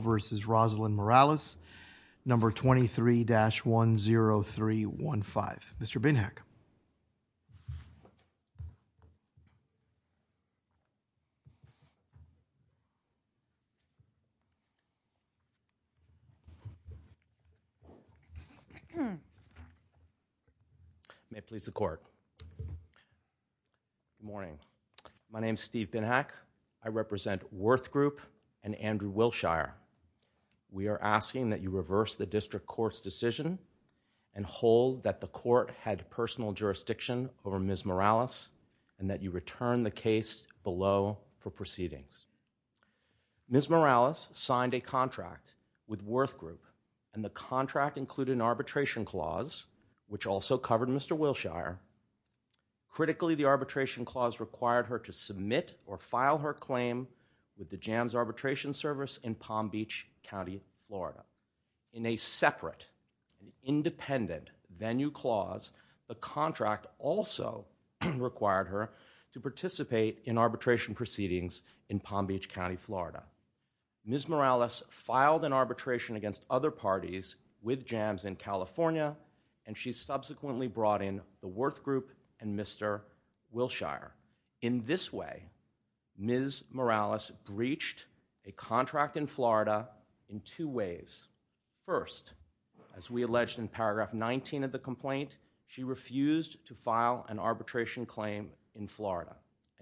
Morales, number 23-10315. Good morning. My name is Steve Binhack. I represent Worth Group and Andrew Wilshire. We are asking that you reverse the District Court's decision and hold that the Court had personal jurisdiction over Ms. Morales and that you return the case below for proceedings. Ms. Morales signed a contract with Worth Group, and the contract included an arbitration clause, which also covered Mr. Wilshire. Critically, the arbitration clause required her to submit or file her claim with the Jams Arbitration Service in Palm Beach County, Florida. In a separate, independent venue clause, the contract also required her to participate in arbitration proceedings in Palm Beach County, Florida. Ms. Morales filed an arbitration against other parties with Jams in California, and she subsequently brought in the Worth Group and Mr. Wilshire. In this way, Ms. Morales breached a contract in Florida in two ways. First, as we alleged in paragraph 19 of the complaint, she refused to file an arbitration claim in Florida.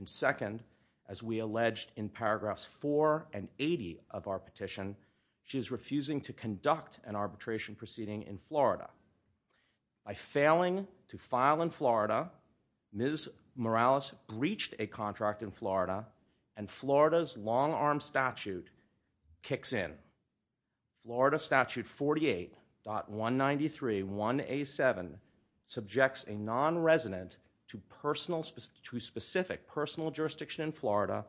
Second, as we alleged in paragraphs 4 and 80 of our petition, she is refusing to conduct an arbitration proceeding in Florida. By failing to file in Florida, Ms. Morales breached a contract in Florida, and Florida's long-arm statute kicks in. Florida Statute 48.193.1A7 subjects a non-resident to specific personal jurisdiction in Florida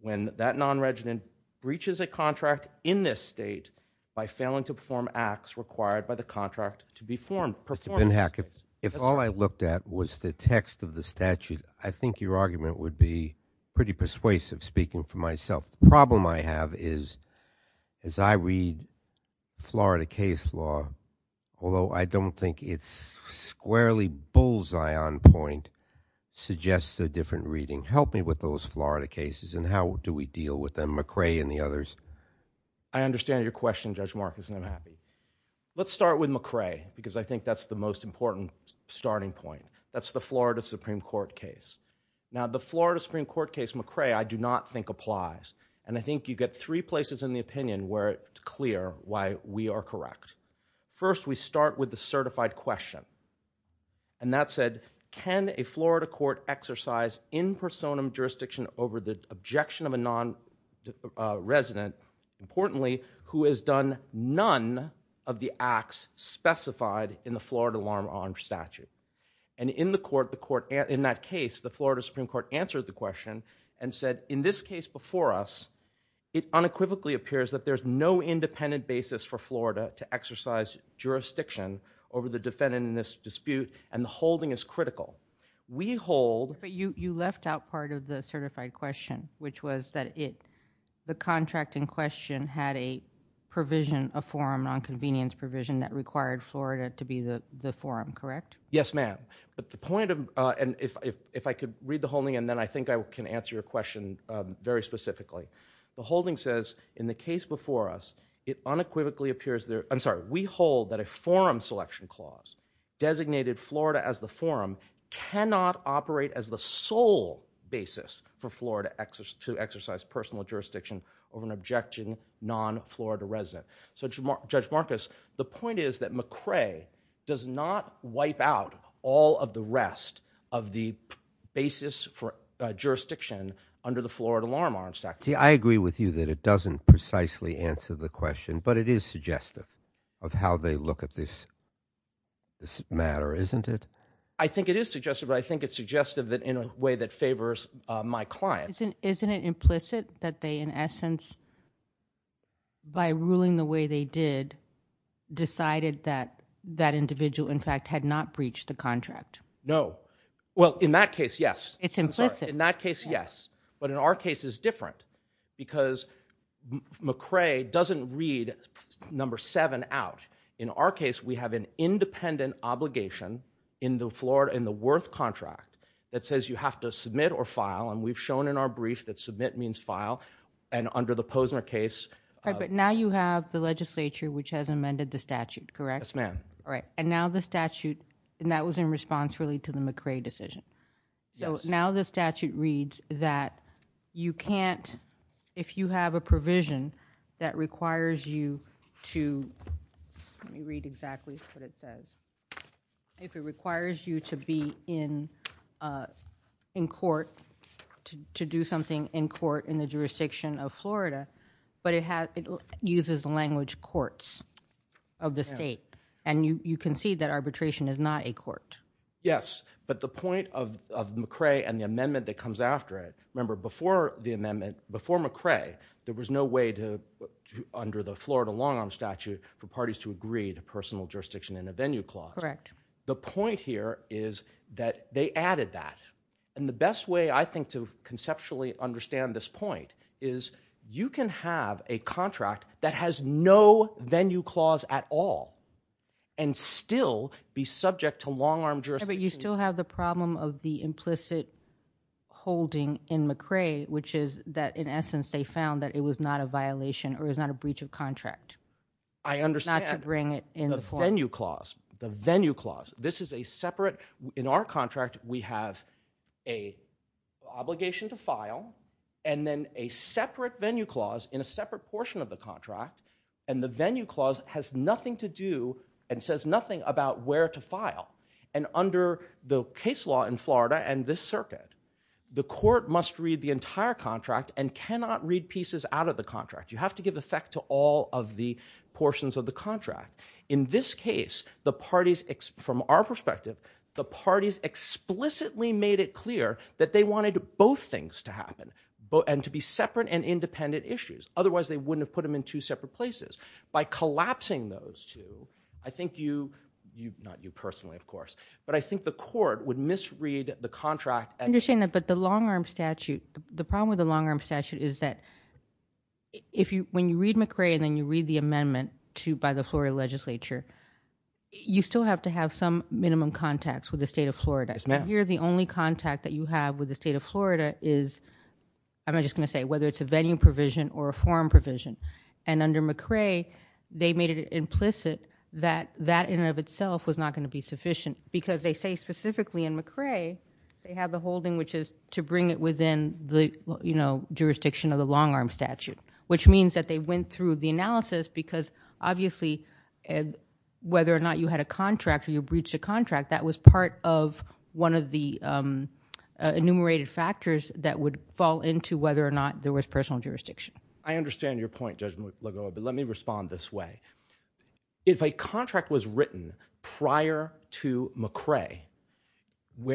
when that non-resident breaches a contract in this state by failing to perform acts required by the contract to be performed. Mr. Benhack, if all I looked at was the text of the statute, I think your argument would be pretty persuasive, speaking for myself. The problem I have is, as I read Florida case law, although I don't think it's squarely true, it's a whole zion point, suggests a different reading. Help me with those Florida cases and how do we deal with them? McCrae and the others? I understand your question, Judge Marcus, and I'm happy. Let's start with McCrae, because I think that's the most important starting point. That's the Florida Supreme Court case. Now, the Florida Supreme Court case McCrae, I do not think applies, and I think you get three places in the opinion where it's clear why we are correct. First, we start with the question, that said, can a Florida court exercise in personam jurisdiction over the objection of a non-resident, importantly, who has done none of the acts specified in the Florida alarm arm statute? In that case, the Florida Supreme Court answered the question and said, in this case before us, it unequivocally appears that there's no independent basis for Florida to exercise jurisdiction over the defendant in this dispute, and the holding is critical. We hold... But you left out part of the certified question, which was that the contract in question had a provision, a forum, non-convenience provision that required Florida to be the forum, correct? Yes, ma'am, but the point of... If I could read the holding, and then I think I can answer your question very specifically. The holding says, in the case before us, it unequivocally appears there... I'm sorry, we hold that a forum selection clause designated Florida as the forum cannot operate as the sole basis for Florida to exercise personal jurisdiction over an objecting non-Florida resident. Judge Marcus, the point is that McCrae does not under the Florida Law Enforcement Act. See, I agree with you that it doesn't precisely answer the question, but it is suggestive of how they look at this matter, isn't it? I think it is suggestive, but I think it's suggestive in a way that favors my client. Isn't it implicit that they, in essence, by ruling the way they did, decided that that individual, in fact, had not breached the contract? No. Well, in that case, yes. It's implicit. In that case, yes, but in our case, it's different because McCrae doesn't read number seven out. In our case, we have an independent obligation in the Worth contract that says you have to submit or file, and we've shown in our brief that submit means file, and under the Posner case... All right, but now you have the legislature, which has amended the statute, correct? Yes, ma'am. All right, and now the statute, and that was in response, really, to the McCrae decision, so now the statute reads that you can't, if you have a provision that requires you to... let me read exactly what it says. If it requires you to be in court, to do something in court in the jurisdiction of Florida, but it uses language courts of the state, and you concede that arbitration is not a court. Yes, but the point of McCrae and the amendment that comes after it, remember, before McCrae, there was no way under the Florida long-arm statute for parties to agree to personal jurisdiction in a venue clause. Correct. The point here is that they added that, and the best way, I think, to conceptually understand this point is you can have a contract that has no venue clause at all, and you can have and still be subject to long-arm jurisdiction. But you still have the problem of the implicit holding in McCrae, which is that, in essence, they found that it was not a violation, or it was not a breach of contract, not to bring it in the... I understand the venue clause. The venue clause. This is a separate... in our contract, we have an obligation to file, and then a separate venue clause in a separate portion of the contract, and the venue clause has nothing to do and says nothing about where to file. And under the case law in Florida and this circuit, the court must read the entire contract and cannot read pieces out of the contract. You have to give effect to all of the portions of the contract. In this case, the parties, from our perspective, the parties explicitly made it clear that they wanted both things to happen, and to be separate and independent issues. Otherwise, they wouldn't have put them in two separate places. By collapsing those two, I think you... not you personally, of course, but I think the court would misread the contract... I understand that, but the long-arm statute, the problem with the long-arm statute is that when you read McCrae and then you read the amendment by the Florida legislature, you still have to have some minimum contacts with the state of Florida. Yes, ma'am. Here, the only contact that you have with the state of Florida is... I'm just going to say, whether it's a venue provision or a forum provision. And under McCrae, they made it implicit that that in and of itself was not going to be sufficient because they say specifically in McCrae, they have the holding which is to bring it within the jurisdiction of the long-arm statute, which means that they went through the analysis because obviously, whether or not you had a contract or you breached a contract, that was part of one of the enumerated factors that would fall into whether or not there was personal jurisdiction. I understand your point, Judge Lagoa, but let me respond this way. If a contract was written prior to McCrae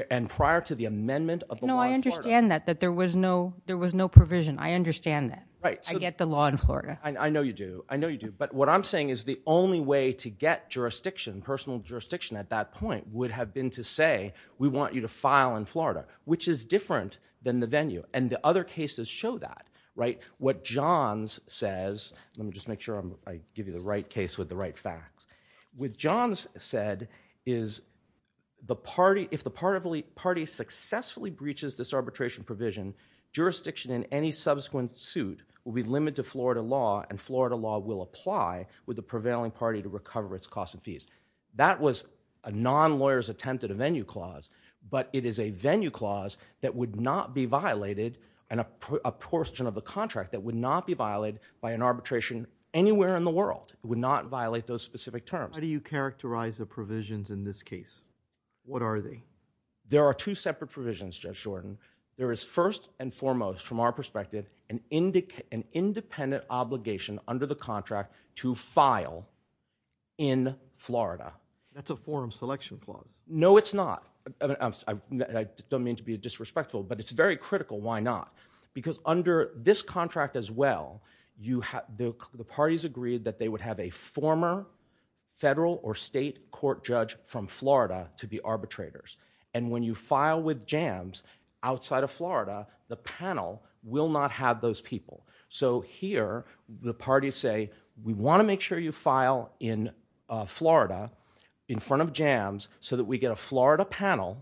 and prior to the amendment of the law in Florida... No, I understand that, that there was no provision. I understand that. I get the law in Florida. I know you do. I know you do. But what I'm saying is the only way to get jurisdiction, personal jurisdiction at that point, would have been to say, we want you to file in Florida, which is different than the venue, and the other cases show that. What Johns says... let me just make sure I give you the right case with the right facts. What Johns said is if the party successfully breaches this arbitration provision, jurisdiction in any subsequent suit will be limited to Florida law, and Florida law will apply with the prevailing party to recover its costs and fees. That was a non-lawyer's attempt at a venue clause, but it is a venue clause that would not be violated, and a portion of the contract that would not be violated by an arbitration anywhere in the world. It would not violate those specific terms. How do you characterize the provisions in this case? What are they? There are two separate provisions, Judge Jordan. There is first and foremost, from our perspective, an independent obligation under the contract to file in Florida. That's a forum selection clause. No, it's not. I don't mean to be disrespectful, but it's very critical why not, because under this contract as well, the parties agreed that they would have a former federal or state court judge from Florida to be arbitrators, and when you file with JAMS outside of Florida, the panel will not have those people. So here, the parties say, we want to make sure you get a Florida panel,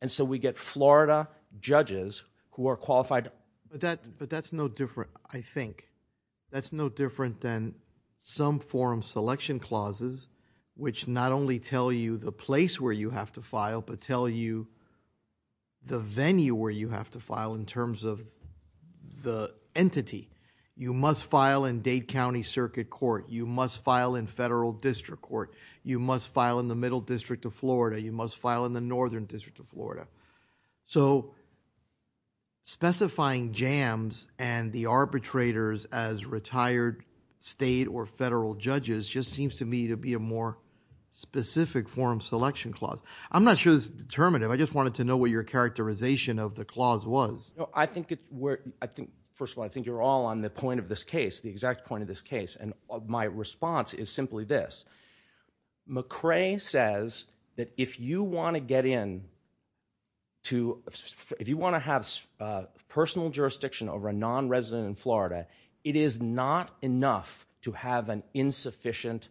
and so we get Florida judges who are qualified. That's no different, I think. That's no different than some forum selection clauses, which not only tell you the place where you have to file, but tell you the venue where you have to file in terms of the entity. You must file in Dade County Circuit Court. You must file in Federal District Court. You must file in the Middle District of Florida. You must file in the Northern District of Florida. Specifying JAMS and the arbitrators as retired state or federal judges just seems to me to be a more specific forum selection clause. I'm not sure it's determinative. I just wanted to know what your characterization of the clause was. First of all, I think you're all on the point of this case, the exact point of this case. My response is simply this. McCrae says that if you want to get in to, if you want to have personal jurisdiction over a non-resident in Florida, it is not enough to have an insufficient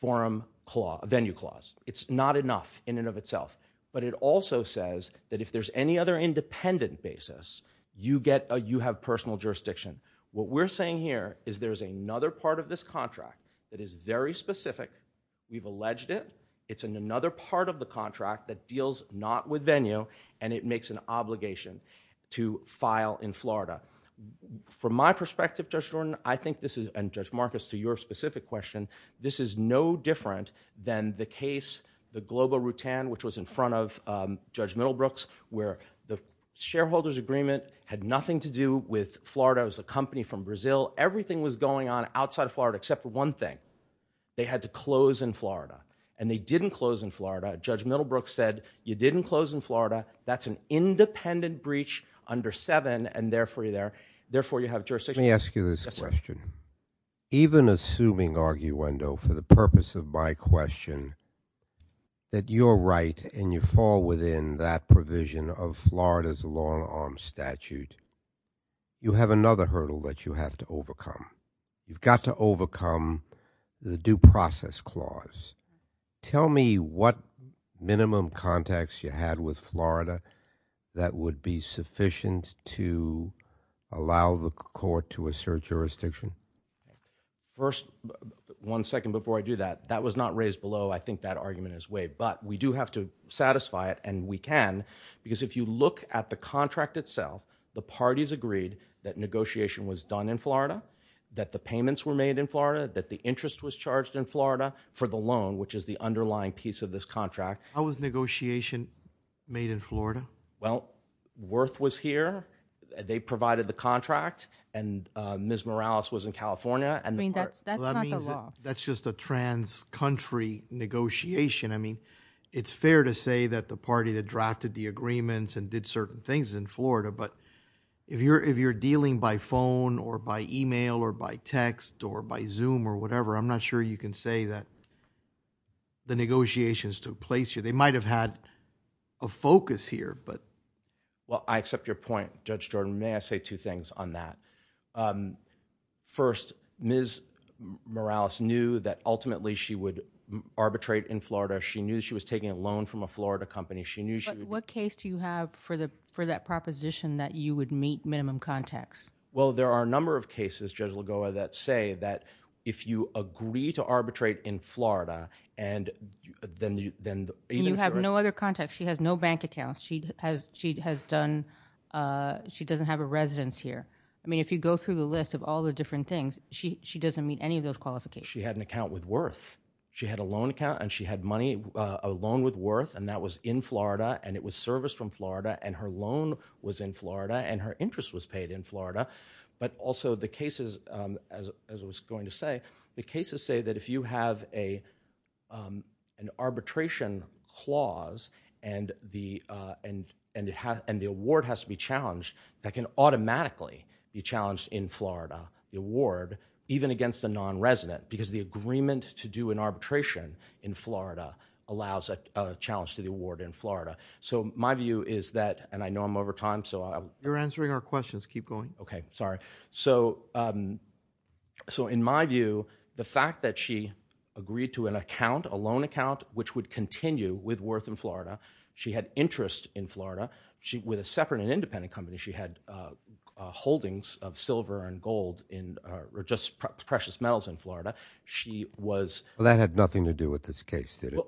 forum venue clause. It's not enough in and of itself. But it also says that if there's any other independent basis, you have personal jurisdiction. What we're saying here is there's another part of this contract that is very specific. We've alleged it. It's in another part of the contract that deals not with venue, and it makes an obligation to file in Florida. From my perspective, Judge Jordan, I think this is, and Judge Marcus, to your specific question, this is no different than the case, the Globo-Rutan, which was in front of Judge Middlebrooks, where the shareholders agreement had nothing to do with Florida as a company from Brazil. Everything was going on outside of Florida except for one thing. They had to close in Florida. And they didn't close in Florida. Judge Middlebrooks said, you didn't close in Florida. That's an independent breach under 7, and therefore you have jurisdiction. Let me ask you this question. Even assuming, arguendo, for the purpose of my question, that you're right and you fall within that provision of Florida's long-arm statute, you have another hurdle that you have to overcome. You've got to overcome the due process clause. Tell me what minimum context you had with Florida that would be sufficient to allow the court to assert jurisdiction. First, one second before I do that, that was not raised below. I think that argument is waived. But we do have to satisfy it, and we can. Because if you look at the contract itself, the parties agreed that negotiation was done in Florida, that the payments were made in Florida, that the interest was charged in Florida for the loan, which is the underlying piece of this contract. How was negotiation made in Florida? Well, Wirth was here. They provided the contract. And Ms. Morales was in California. I mean, that's not the law. It's fair to say that the party that drafted the agreements and did certain things in Florida, but if you're dealing by phone or by email or by text or by Zoom or whatever, I'm not sure you can say that the negotiations took place here. They might have had a focus here. Well, I accept your point, Judge Jordan. May I say two things on that? First, Ms. Morales knew that ultimately she would arbitrate in Florida. She knew she was taking a loan from a Florida company. She knew she would... But what case do you have for that proposition that you would meet minimum contacts? Well, there are a number of cases, Judge Lagoa, that say that if you agree to arbitrate in Florida, and then... And you have no other contacts. She has no bank account. She doesn't have a residence here. I mean, if you go through the list of all the different things, she doesn't meet any of those qualifications. She had an account with Worth. She had a loan account, and she had money, a loan with Worth, and that was in Florida, and it was serviced from Florida, and her loan was in Florida, and her interest was paid in Florida. But also the cases, as I was going to say, the cases say that if you have an arbitration clause and the award has to be challenged, that can automatically be challenged in Florida, the award, even against a non-resident, because the agreement to do an arbitration in Florida allows a challenge to the award in Florida. So my view is that... And I know I'm over time, so I... You're answering our questions. Keep going. Okay. Sorry. So in my view, the fact that she agreed to an account, a loan account, which would continue with Worth in Florida, she had interest in Florida, with a separate and independent company, she had holdings of silver and gold, or just precious metals in Florida. She was... That had nothing to do with this case, did it?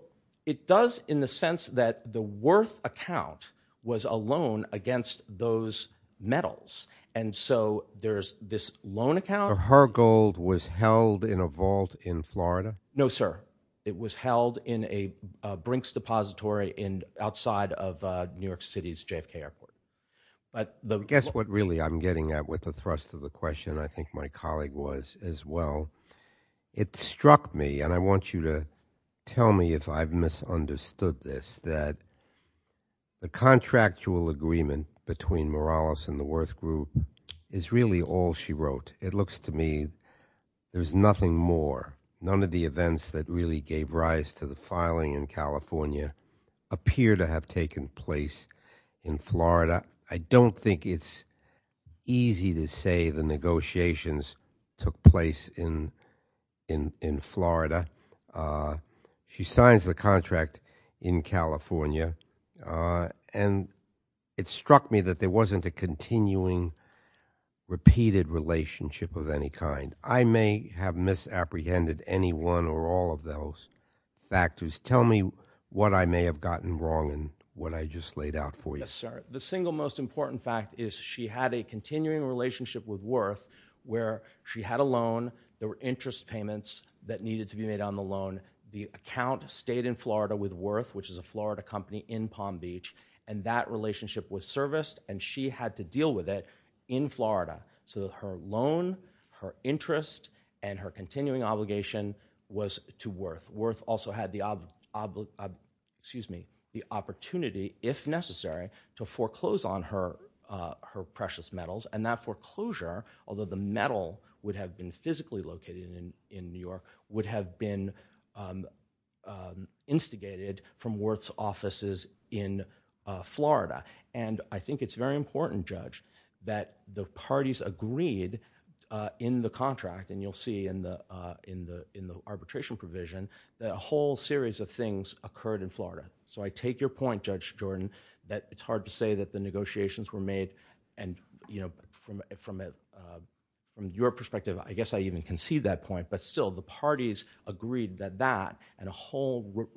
It does in the sense that the Worth account was a loan against those metals, and so there's this loan account... Her gold was held in a vault in Florida? No, sir. It was held in a Brinks depository outside of New York City's JFK Airport. Guess what really I'm getting at with the thrust of the question. I think my colleague was as well. It struck me, and I want you to tell me if I've misunderstood this, that the contractual agreement between Morales and the Worth Group is really all she wrote. It looks to me there's nothing more. None of the events that really gave rise to the filing in California appear to have taken place in Florida. I don't think it's easy to say the negotiations took place in Florida. She signs the contract in California, and it struck me that there wasn't a continuing, repeated relationship of any kind. I may have misapprehended any one or all of those factors. Tell me what I may have gotten wrong and what I just laid out for you. Yes, sir. The single most important fact is she had a continuing relationship with Worth where she had a loan. There were interest payments that needed to be made on the loan. The account stayed in Florida with Worth, which is a Florida company in Palm Beach. That relationship was serviced, and she had to deal with it in Florida. Her loan, her interest, and her continuing obligation was to Worth. Worth also had the opportunity, if necessary, to foreclose on her precious metals. That foreclosure, although the metal would have been physically located in New York, would have been instigated from Worth's offices in Florida. I think it's very important, Judge, that the parties agreed in the contract, and you'll see in the arbitration provision, that a whole series of things occurred in Florida. I take your point, Judge Jordan, that it's hard to say that the negotiations were made. From your perspective, I guess I can't even concede that point, but still, the parties agreed that that and a whole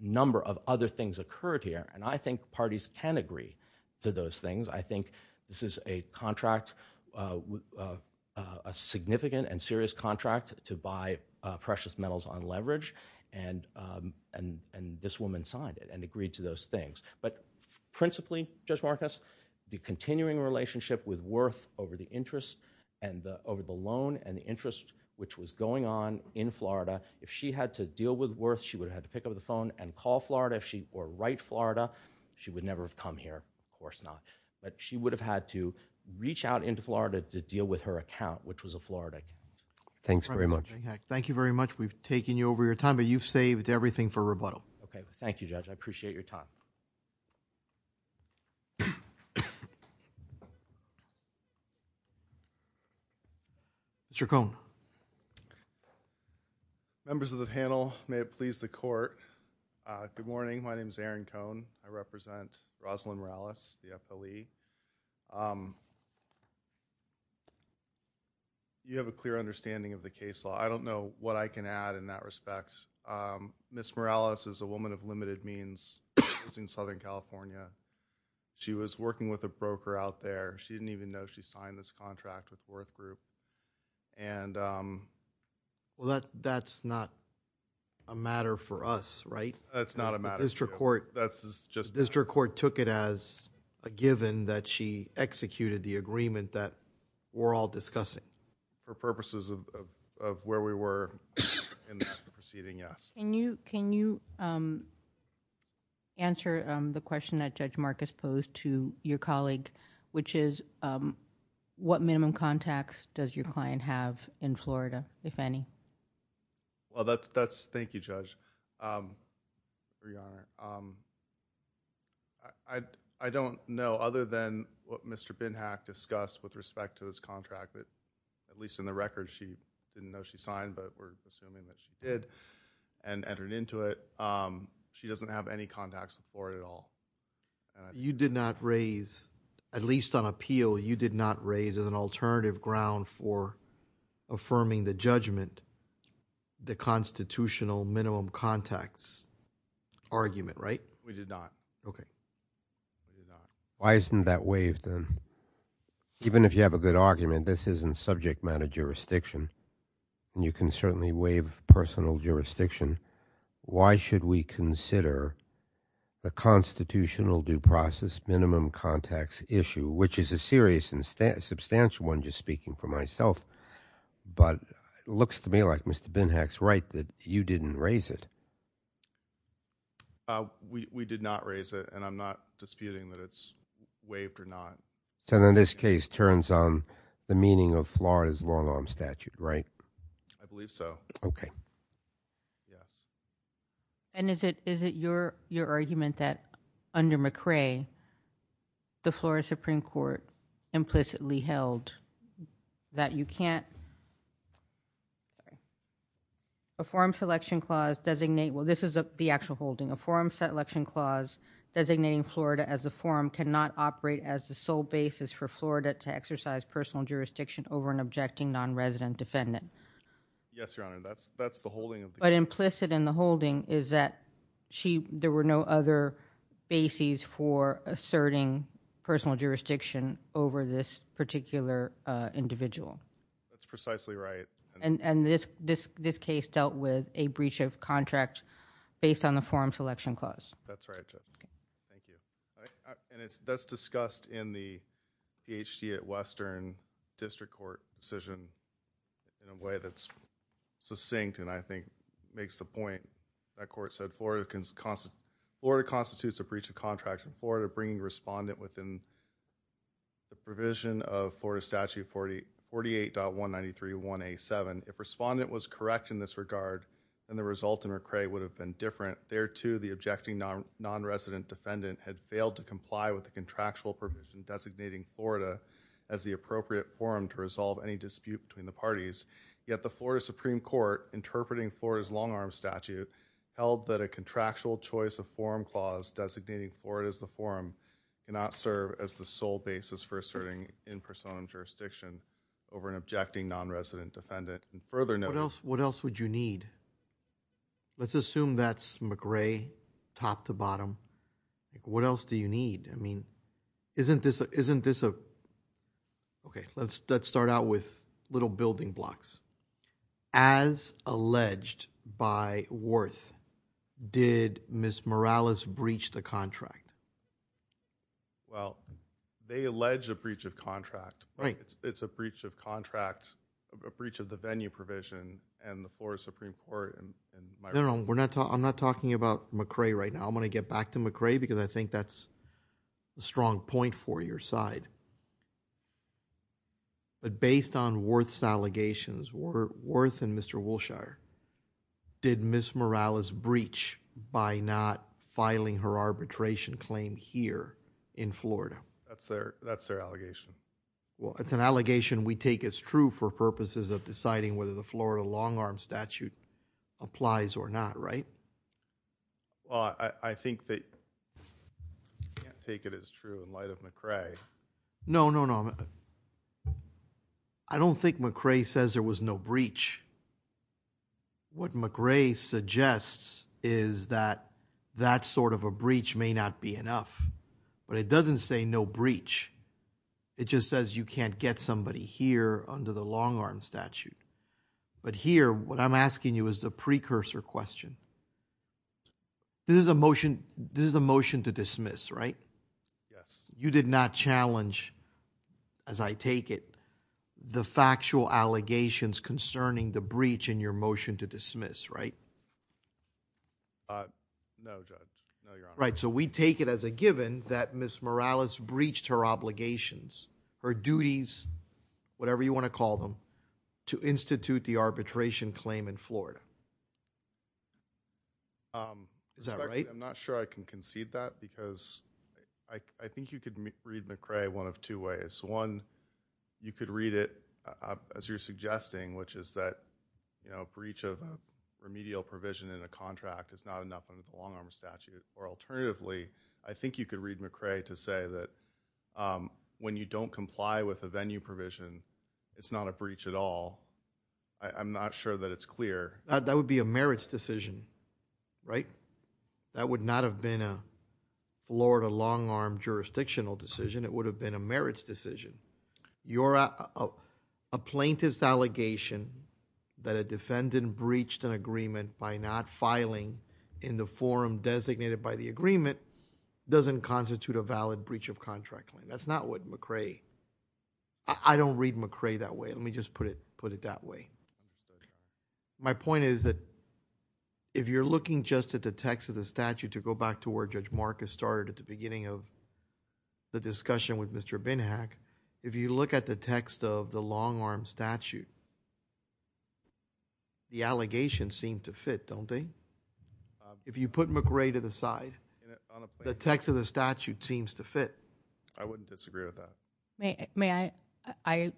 number of other things occurred here. I think parties can agree to those things. I think this is a contract, a significant and serious contract, to buy precious metals on leverage. This woman signed it and agreed to those things. Principally, Judge Marcus, the continuing relationship with Worth over the loan and the interest, which was going on in Florida, if she had to deal with Worth, she would have had to pick up the phone and call Florida. If she were right Florida, she would never have come here. Of course not. She would have had to reach out into Florida to deal with her account, which was a Florida. Thanks very much. Thank you very much. We've taken you over your time, but you've saved everything for rebuttal. Thank you, Judge. I appreciate your time. Mr. Cohn. Members of the panel, may it please the Court. Good morning. My name is Aaron Cohn. I represent Rosalind Morales, the FLE. You have a clear understanding of the case law. I don't know what I can add in that respect. Ms. Morales is a woman of limited means in Southern California. She was working with a broker out there. She didn't even know she signed this contract with Worth Group. That's not a matter for us, right? That's not a matter for us. The district court took it as a given that she executed the agreement that we're all discussing. For purposes of where we were in the proceeding, yes. Can you answer the question that Judge Marcus posed to your colleague, which is what minimum contacts does your client have in Florida, if any? Thank you, Judge. I don't know, other than what Mr. Binhack discussed with respect to this contract that, at least in the record, she didn't know she signed, but we're assuming that she did and entered into it. She doesn't have any contacts in Florida at all. You did not raise, at least on appeal, you did not raise as an alternative ground for affirming the judgment, the constitutional minimum contacts argument, right? We did not. Okay. Why isn't that waived then? Even if you have a good argument, this isn't subject matter jurisdiction, and you can certainly waive personal jurisdiction. Why should we consider the constitutional due process minimum contacts issue, which is a serious and substantial one, just speaking for myself, but it looks to me like Mr. Binhack's right that you didn't raise it. We did not raise it, and I'm not disputing that it's waived or not. So then this case turns on the meaning of Florida's long-arm statute, right? I believe so. Okay. Yes. And is it your argument that, under McRae, the Florida Supreme Court implicitly held that you can't... a forum selection clause designate... well, this is the actual holding. A forum selection clause designating Florida as a forum cannot operate as the sole basis for Florida to exercise personal jurisdiction over an objecting non-resident defendant. Yes, Your Honor. That's the holding of the... But implicit in the holding is that there were no other bases for asserting personal jurisdiction over this particular individual. That's precisely right. And this case dealt with a breach of contract based on the forum selection clause. That's right, Judge. Okay. Thank you. And that's discussed in the Ph.D. at Western District Court decision in a way that's succinct and I think makes the point that court said Florida constitutes a breach of contract in Florida bringing respondent within the provision of Florida Statute 48.193.1A.7. If respondent was correct in this regard, then the result in McRae would have been different. There, too, the objecting non-resident defendant had failed to comply with the contractual provision designating Florida as the appropriate forum to resolve any dispute between the parties. Yet the Florida Supreme Court, interpreting Florida's long-arm statute, held that a contractual choice of forum clause designating Florida as the forum cannot serve as the sole basis for asserting in-person jurisdiction over an objecting non-resident defendant. And further... What else would you need? Let's assume that's McRae, top to bottom. What else do you need? I mean, isn't this a... Okay, let's start out with little building blocks. As alleged by Worth, did Ms. Morales breach the contract? Well, they allege a breach of contract. Right. It's a breach of contract, a breach of the venue provision and the Florida Supreme Court... No, no, I'm not talking about McRae right now. I'm going to get back to McRae because I think that's a strong point for your side. But based on Worth's allegations, Worth and Mr. Wolshire, did Ms. Morales breach by not filing her arbitration claim here in Florida? That's their allegation. Well, it's an allegation we take as true for purposes of deciding whether the Florida long-arm statute applies or not, right? Well, I think that... I can't take it as true in light of McRae. No, no, no. I don't think McRae says there was no breach. What McRae suggests is that that sort of a breach may not be enough. But it doesn't say no breach. It just says you can't get somebody here under the long-arm statute. But here, what I'm asking you is the precursor question. This is a motion to dismiss, right? Yes. You did not challenge, as I take it, the factual allegations concerning the breach in your motion to dismiss, right? No, Judge. No, Your Honor. Right, so we take it as a given that Ms. Morales breached her obligations, her duties, whatever you want to call them, to institute the arbitration claim in Florida. Is that right? I'm not sure I can concede that because I think you could read McRae one of two ways. One, you could read it as you're suggesting, which is that a breach of a remedial provision in a contract is not enough under the long-arm statute. Or alternatively, I think you could read McRae to say that when you don't comply with a venue provision, it's not a breach at all. I'm not sure that it's clear. That would be a merits decision, right? That would not have been a Florida long-arm jurisdictional decision. It would have been a merits decision. A plaintiff's allegation that a defendant breached an agreement by not filing in the forum designated by the agreement doesn't constitute a valid breach of contract claim. That's not what McRae... I don't read McRae that way. Let me just put it that way. My point is that if you're looking just at the text of the statute to go back to where Judge Marcus started at the beginning of the discussion with Mr. Binhack, if you look at the text of the long-arm statute, the allegations seem to fit, don't they? If you put McRae to the side, the text of the statute seems to fit. I wouldn't disagree with that. May I...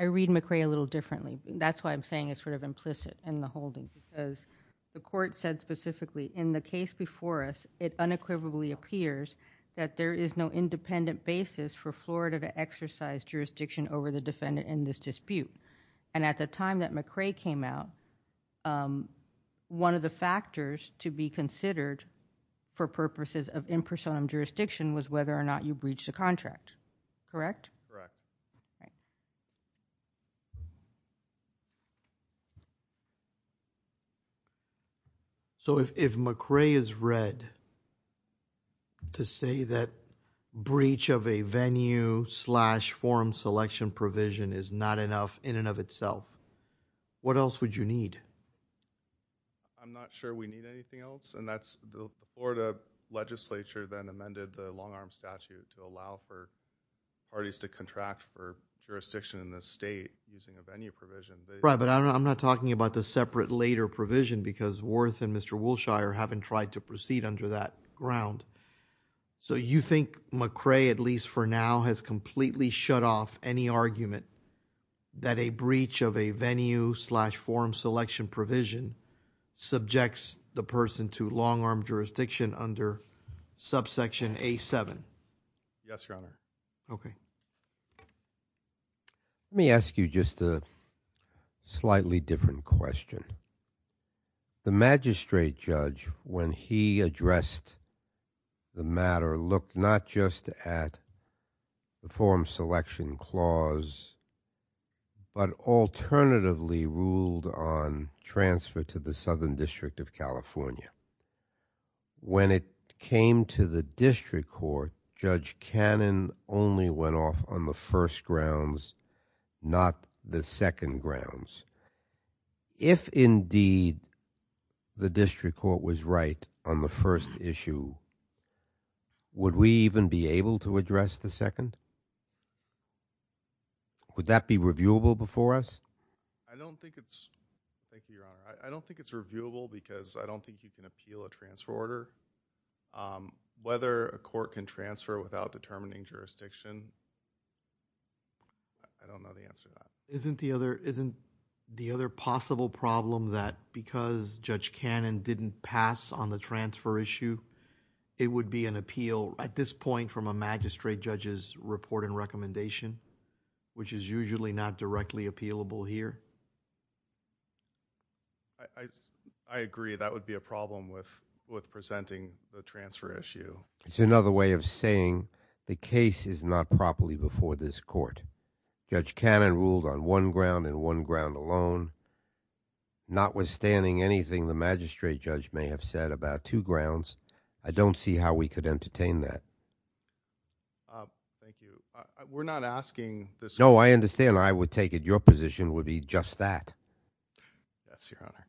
I read McRae a little differently. That's why I'm saying it's sort of implicit in the holding because the court said specifically, in the case before us, it unequivocally appears that there is no independent basis for Florida to exercise jurisdiction over the defendant in this dispute. At the time that McRae came out, one of the factors to be considered for interim jurisdiction was whether or not you breached a contract. Correct? Correct. If McRae is read to say that breach of a venue slash forum selection provision is not enough in and of itself, what else would you need? I'm not sure we need anything else. The Florida legislature then amended the long-arm statute to allow for parties to contract for jurisdiction in the state using a venue provision. Right, but I'm not talking about the separate later provision because Worth and Mr. Wolshire haven't tried to proceed under that ground. You think McRae, at least for now, has completely shut off any argument that a breach of a venue slash forum selection provision subjects the person to long-arm jurisdiction under subsection A7? Yes, Your Honor. Okay. Let me ask you just a slightly different question. The magistrate judge, when he addressed the matter, looked not just at the but alternatively ruled on transfer to the Southern District of California. When it came to the district court, Judge Cannon only went off on the first grounds, not the second grounds. If indeed the district court was right on the first issue, would we even be able to address the second? Would that be reviewable before us? I don't think it's... thank you, Your Honor. I don't think it's reviewable because I don't think you can appeal a transfer order. Whether a court can transfer without determining jurisdiction, I don't know the answer to that. Isn't the other possible problem that because Judge Cannon didn't pass on the recommendation, which is usually not directly appealable here? I agree. That would be a problem with presenting the transfer issue. It's another way of saying the case is not properly before this court. Judge Cannon ruled on one ground and one ground alone. Notwithstanding anything the magistrate judge may have said about two grounds, I don't see how we could entertain that. Thank you. We're not asking this court... No, I understand. I would take it your position would be just that. That's your Honor.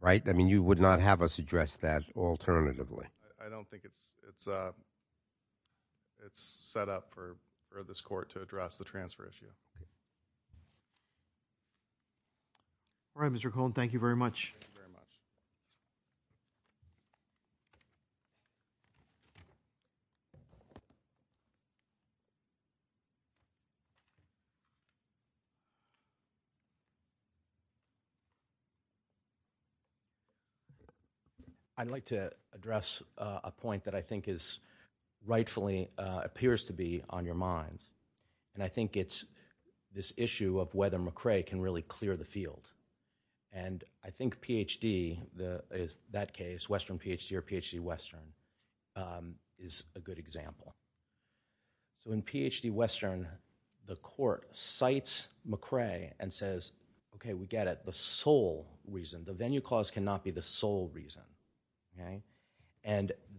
Right? I mean, you would not have us address that alternatively. I don't think it's set up for this court to address the transfer issue. Thank you very much. Thank you very much. I'd like to address a point that I think rightfully appears to be on your minds. I think it's this issue of whether McCrae can really clear the field. I think Ph.D., in that case, Western Ph.D. or Ph.D. Western, is a good example. In Ph.D. Western, the court cites McCrae and says, okay, we get it. The sole reason, the venue clause cannot be the sole reason.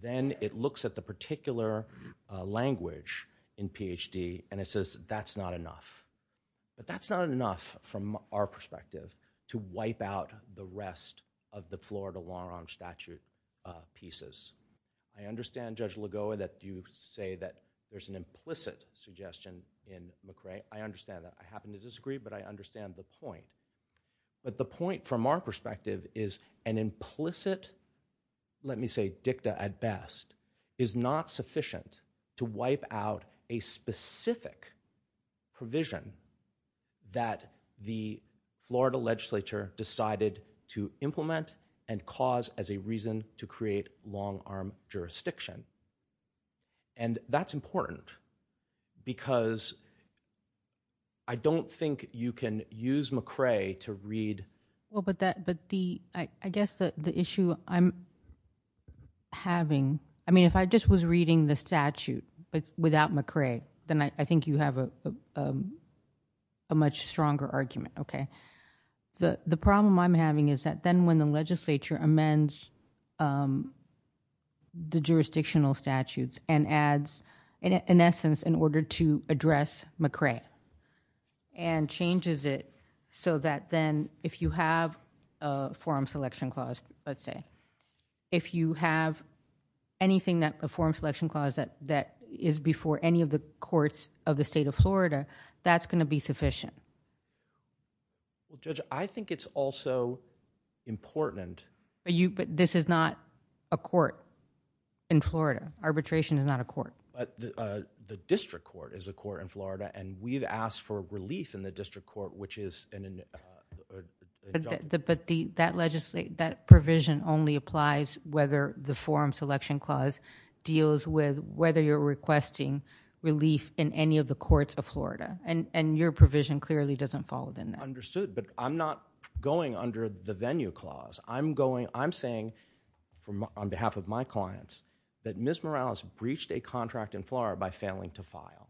Then it looks at the particular language in Ph.D. and it says, that's not enough. But that's not enough from our perspective to wipe out the rest of the Florida long-arm statute pieces. I understand, Judge Lagoa, that you say that there's an implicit suggestion in McCrae. I understand that. I happen to disagree, but I understand the point. But the point from our perspective is an implicit, let me say dicta at best, is not sufficient to wipe out a specific provision that the Florida legislature decided to implement and cause as a reason to create long-arm jurisdiction. That's important because I don't think you can use McCrae to read. But I guess the issue I'm having, I mean, if I just was reading the statute without McCrae, then I think you have a much stronger argument. The problem I'm having is that then when the legislature amends the jurisdictional statutes and adds, in essence, in order to address McCrae and changes it so that then if you have a forum selection clause, let's say, if you have anything, a forum selection clause that is before any of the courts of the state of Florida, that's going to be sufficient. Judge, I think it's also important... But this is not a court in Florida. Arbitration is not a court. The district court is a court in Florida, and we've asked for relief in the district court, which is... But that provision only applies whether the forum selection clause deals with whether you're requesting relief in any of the courts of Florida, and your provision clearly doesn't fall within that. Understood, but I'm not going under the venue clause. I'm saying on behalf of my clients that Ms. Morales breached a contract in Florida by failing to file,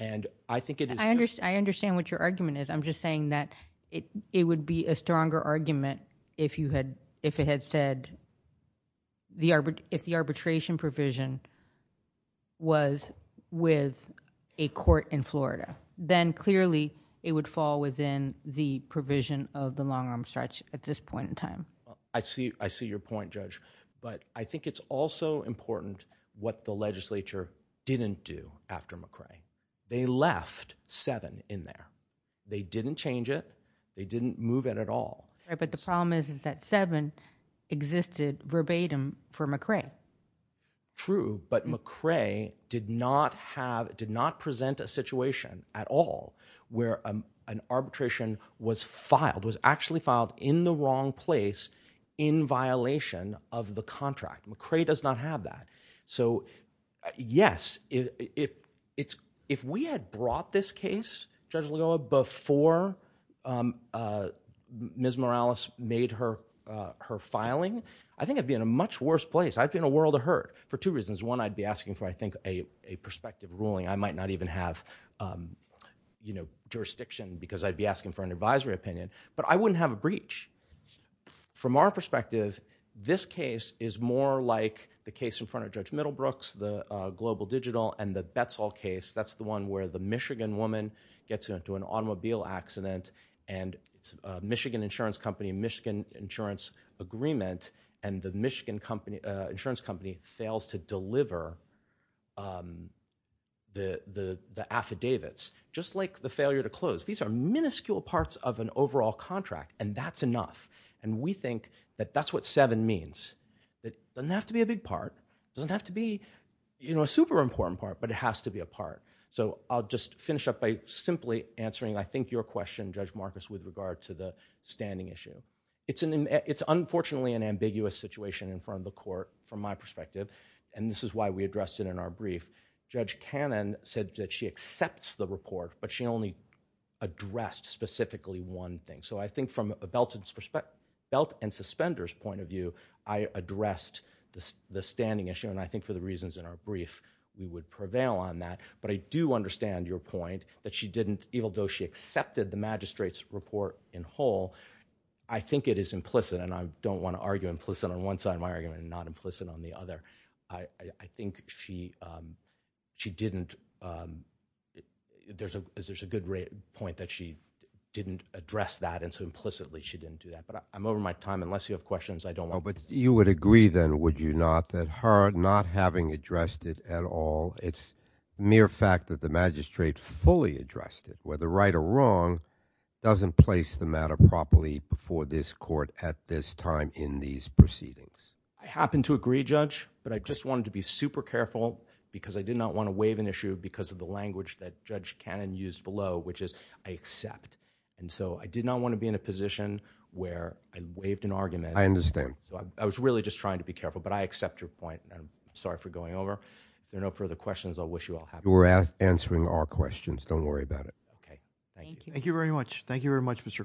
and I think it is... I understand what your argument is. I'm just saying that it would be a stronger argument if it had said... if the arbitration provision was with a court in Florida, then clearly it would fall within the provision of the long-arm stretch at this point in time. I see your point, Judge, but I think it's also important what the legislature didn't do after McCrae. They left Seven in there. They didn't change it. They didn't move it at all. Right, but the problem is that Seven existed verbatim for McCrae. True, but McCrae did not have... did not present a situation at all where an arbitration was filed, was actually filed in the wrong place in violation of the contract. McCrae does not have that. Yes, if we had brought this case, Judge Lagoa, before Ms. Morales made her filing, I think I'd be in a much worse place. I'd be in a world of hurt for two reasons. One, I'd be asking for, I think, a prospective ruling. I might not even have jurisdiction because I'd be asking for an advisory opinion, but I wouldn't have a breach. From our perspective, this case is more like the case in front of Judge Middlebrooks, the Global Digital, and the Betzall case. That's the one where the Michigan woman gets into an automobile accident and Michigan insurance company, Michigan insurance agreement, and the Michigan insurance company fails to deliver the affidavits, just like the failure to close. These are minuscule parts of an overall contract, and that's enough. We think that that's what seven means. It doesn't have to be a big part. It doesn't have to be a super important part, but it has to be a part. I'll just finish up by simply answering, I think, your question, Judge Marcus, with regard to the standing issue. It's unfortunately an ambiguous situation in front of the court from my perspective, and this is why we addressed it in our brief. Judge Cannon said that she accepts the report, but she only addressed specifically one thing. I think from a belt and suspenders point of view, I addressed the standing issue, and I think for the reasons in our brief, we would prevail on that. I do understand your point that even though she accepted the magistrate's report in whole, I think it is implicit, and I don't want to argue implicit on one side of my argument and not implicit on the other. I think she didn't... there's a good point that she didn't address that, and so implicitly she didn't do that, but I'm over my time. Unless you have questions, I don't want to... But you would agree then, would you not, that her not having addressed it at all, it's mere fact that the magistrate fully addressed it, whether right or wrong, doesn't place the matter properly before this court at this time in these proceedings? I happen to agree, Judge, but I just wanted to be super careful because I did not want to waive an issue because of the language that Judge Cannon used below, which is, I accept. I did not want to be in a position where I waived an argument. I understand. I was really just trying to be careful, but I accept your point. I'm sorry for going over. If there are no further questions, I wish you all happiness. You were answering our questions. Don't worry about it. Okay. Thank you. Thank you very much. Thank you very much, Mr. Cohn.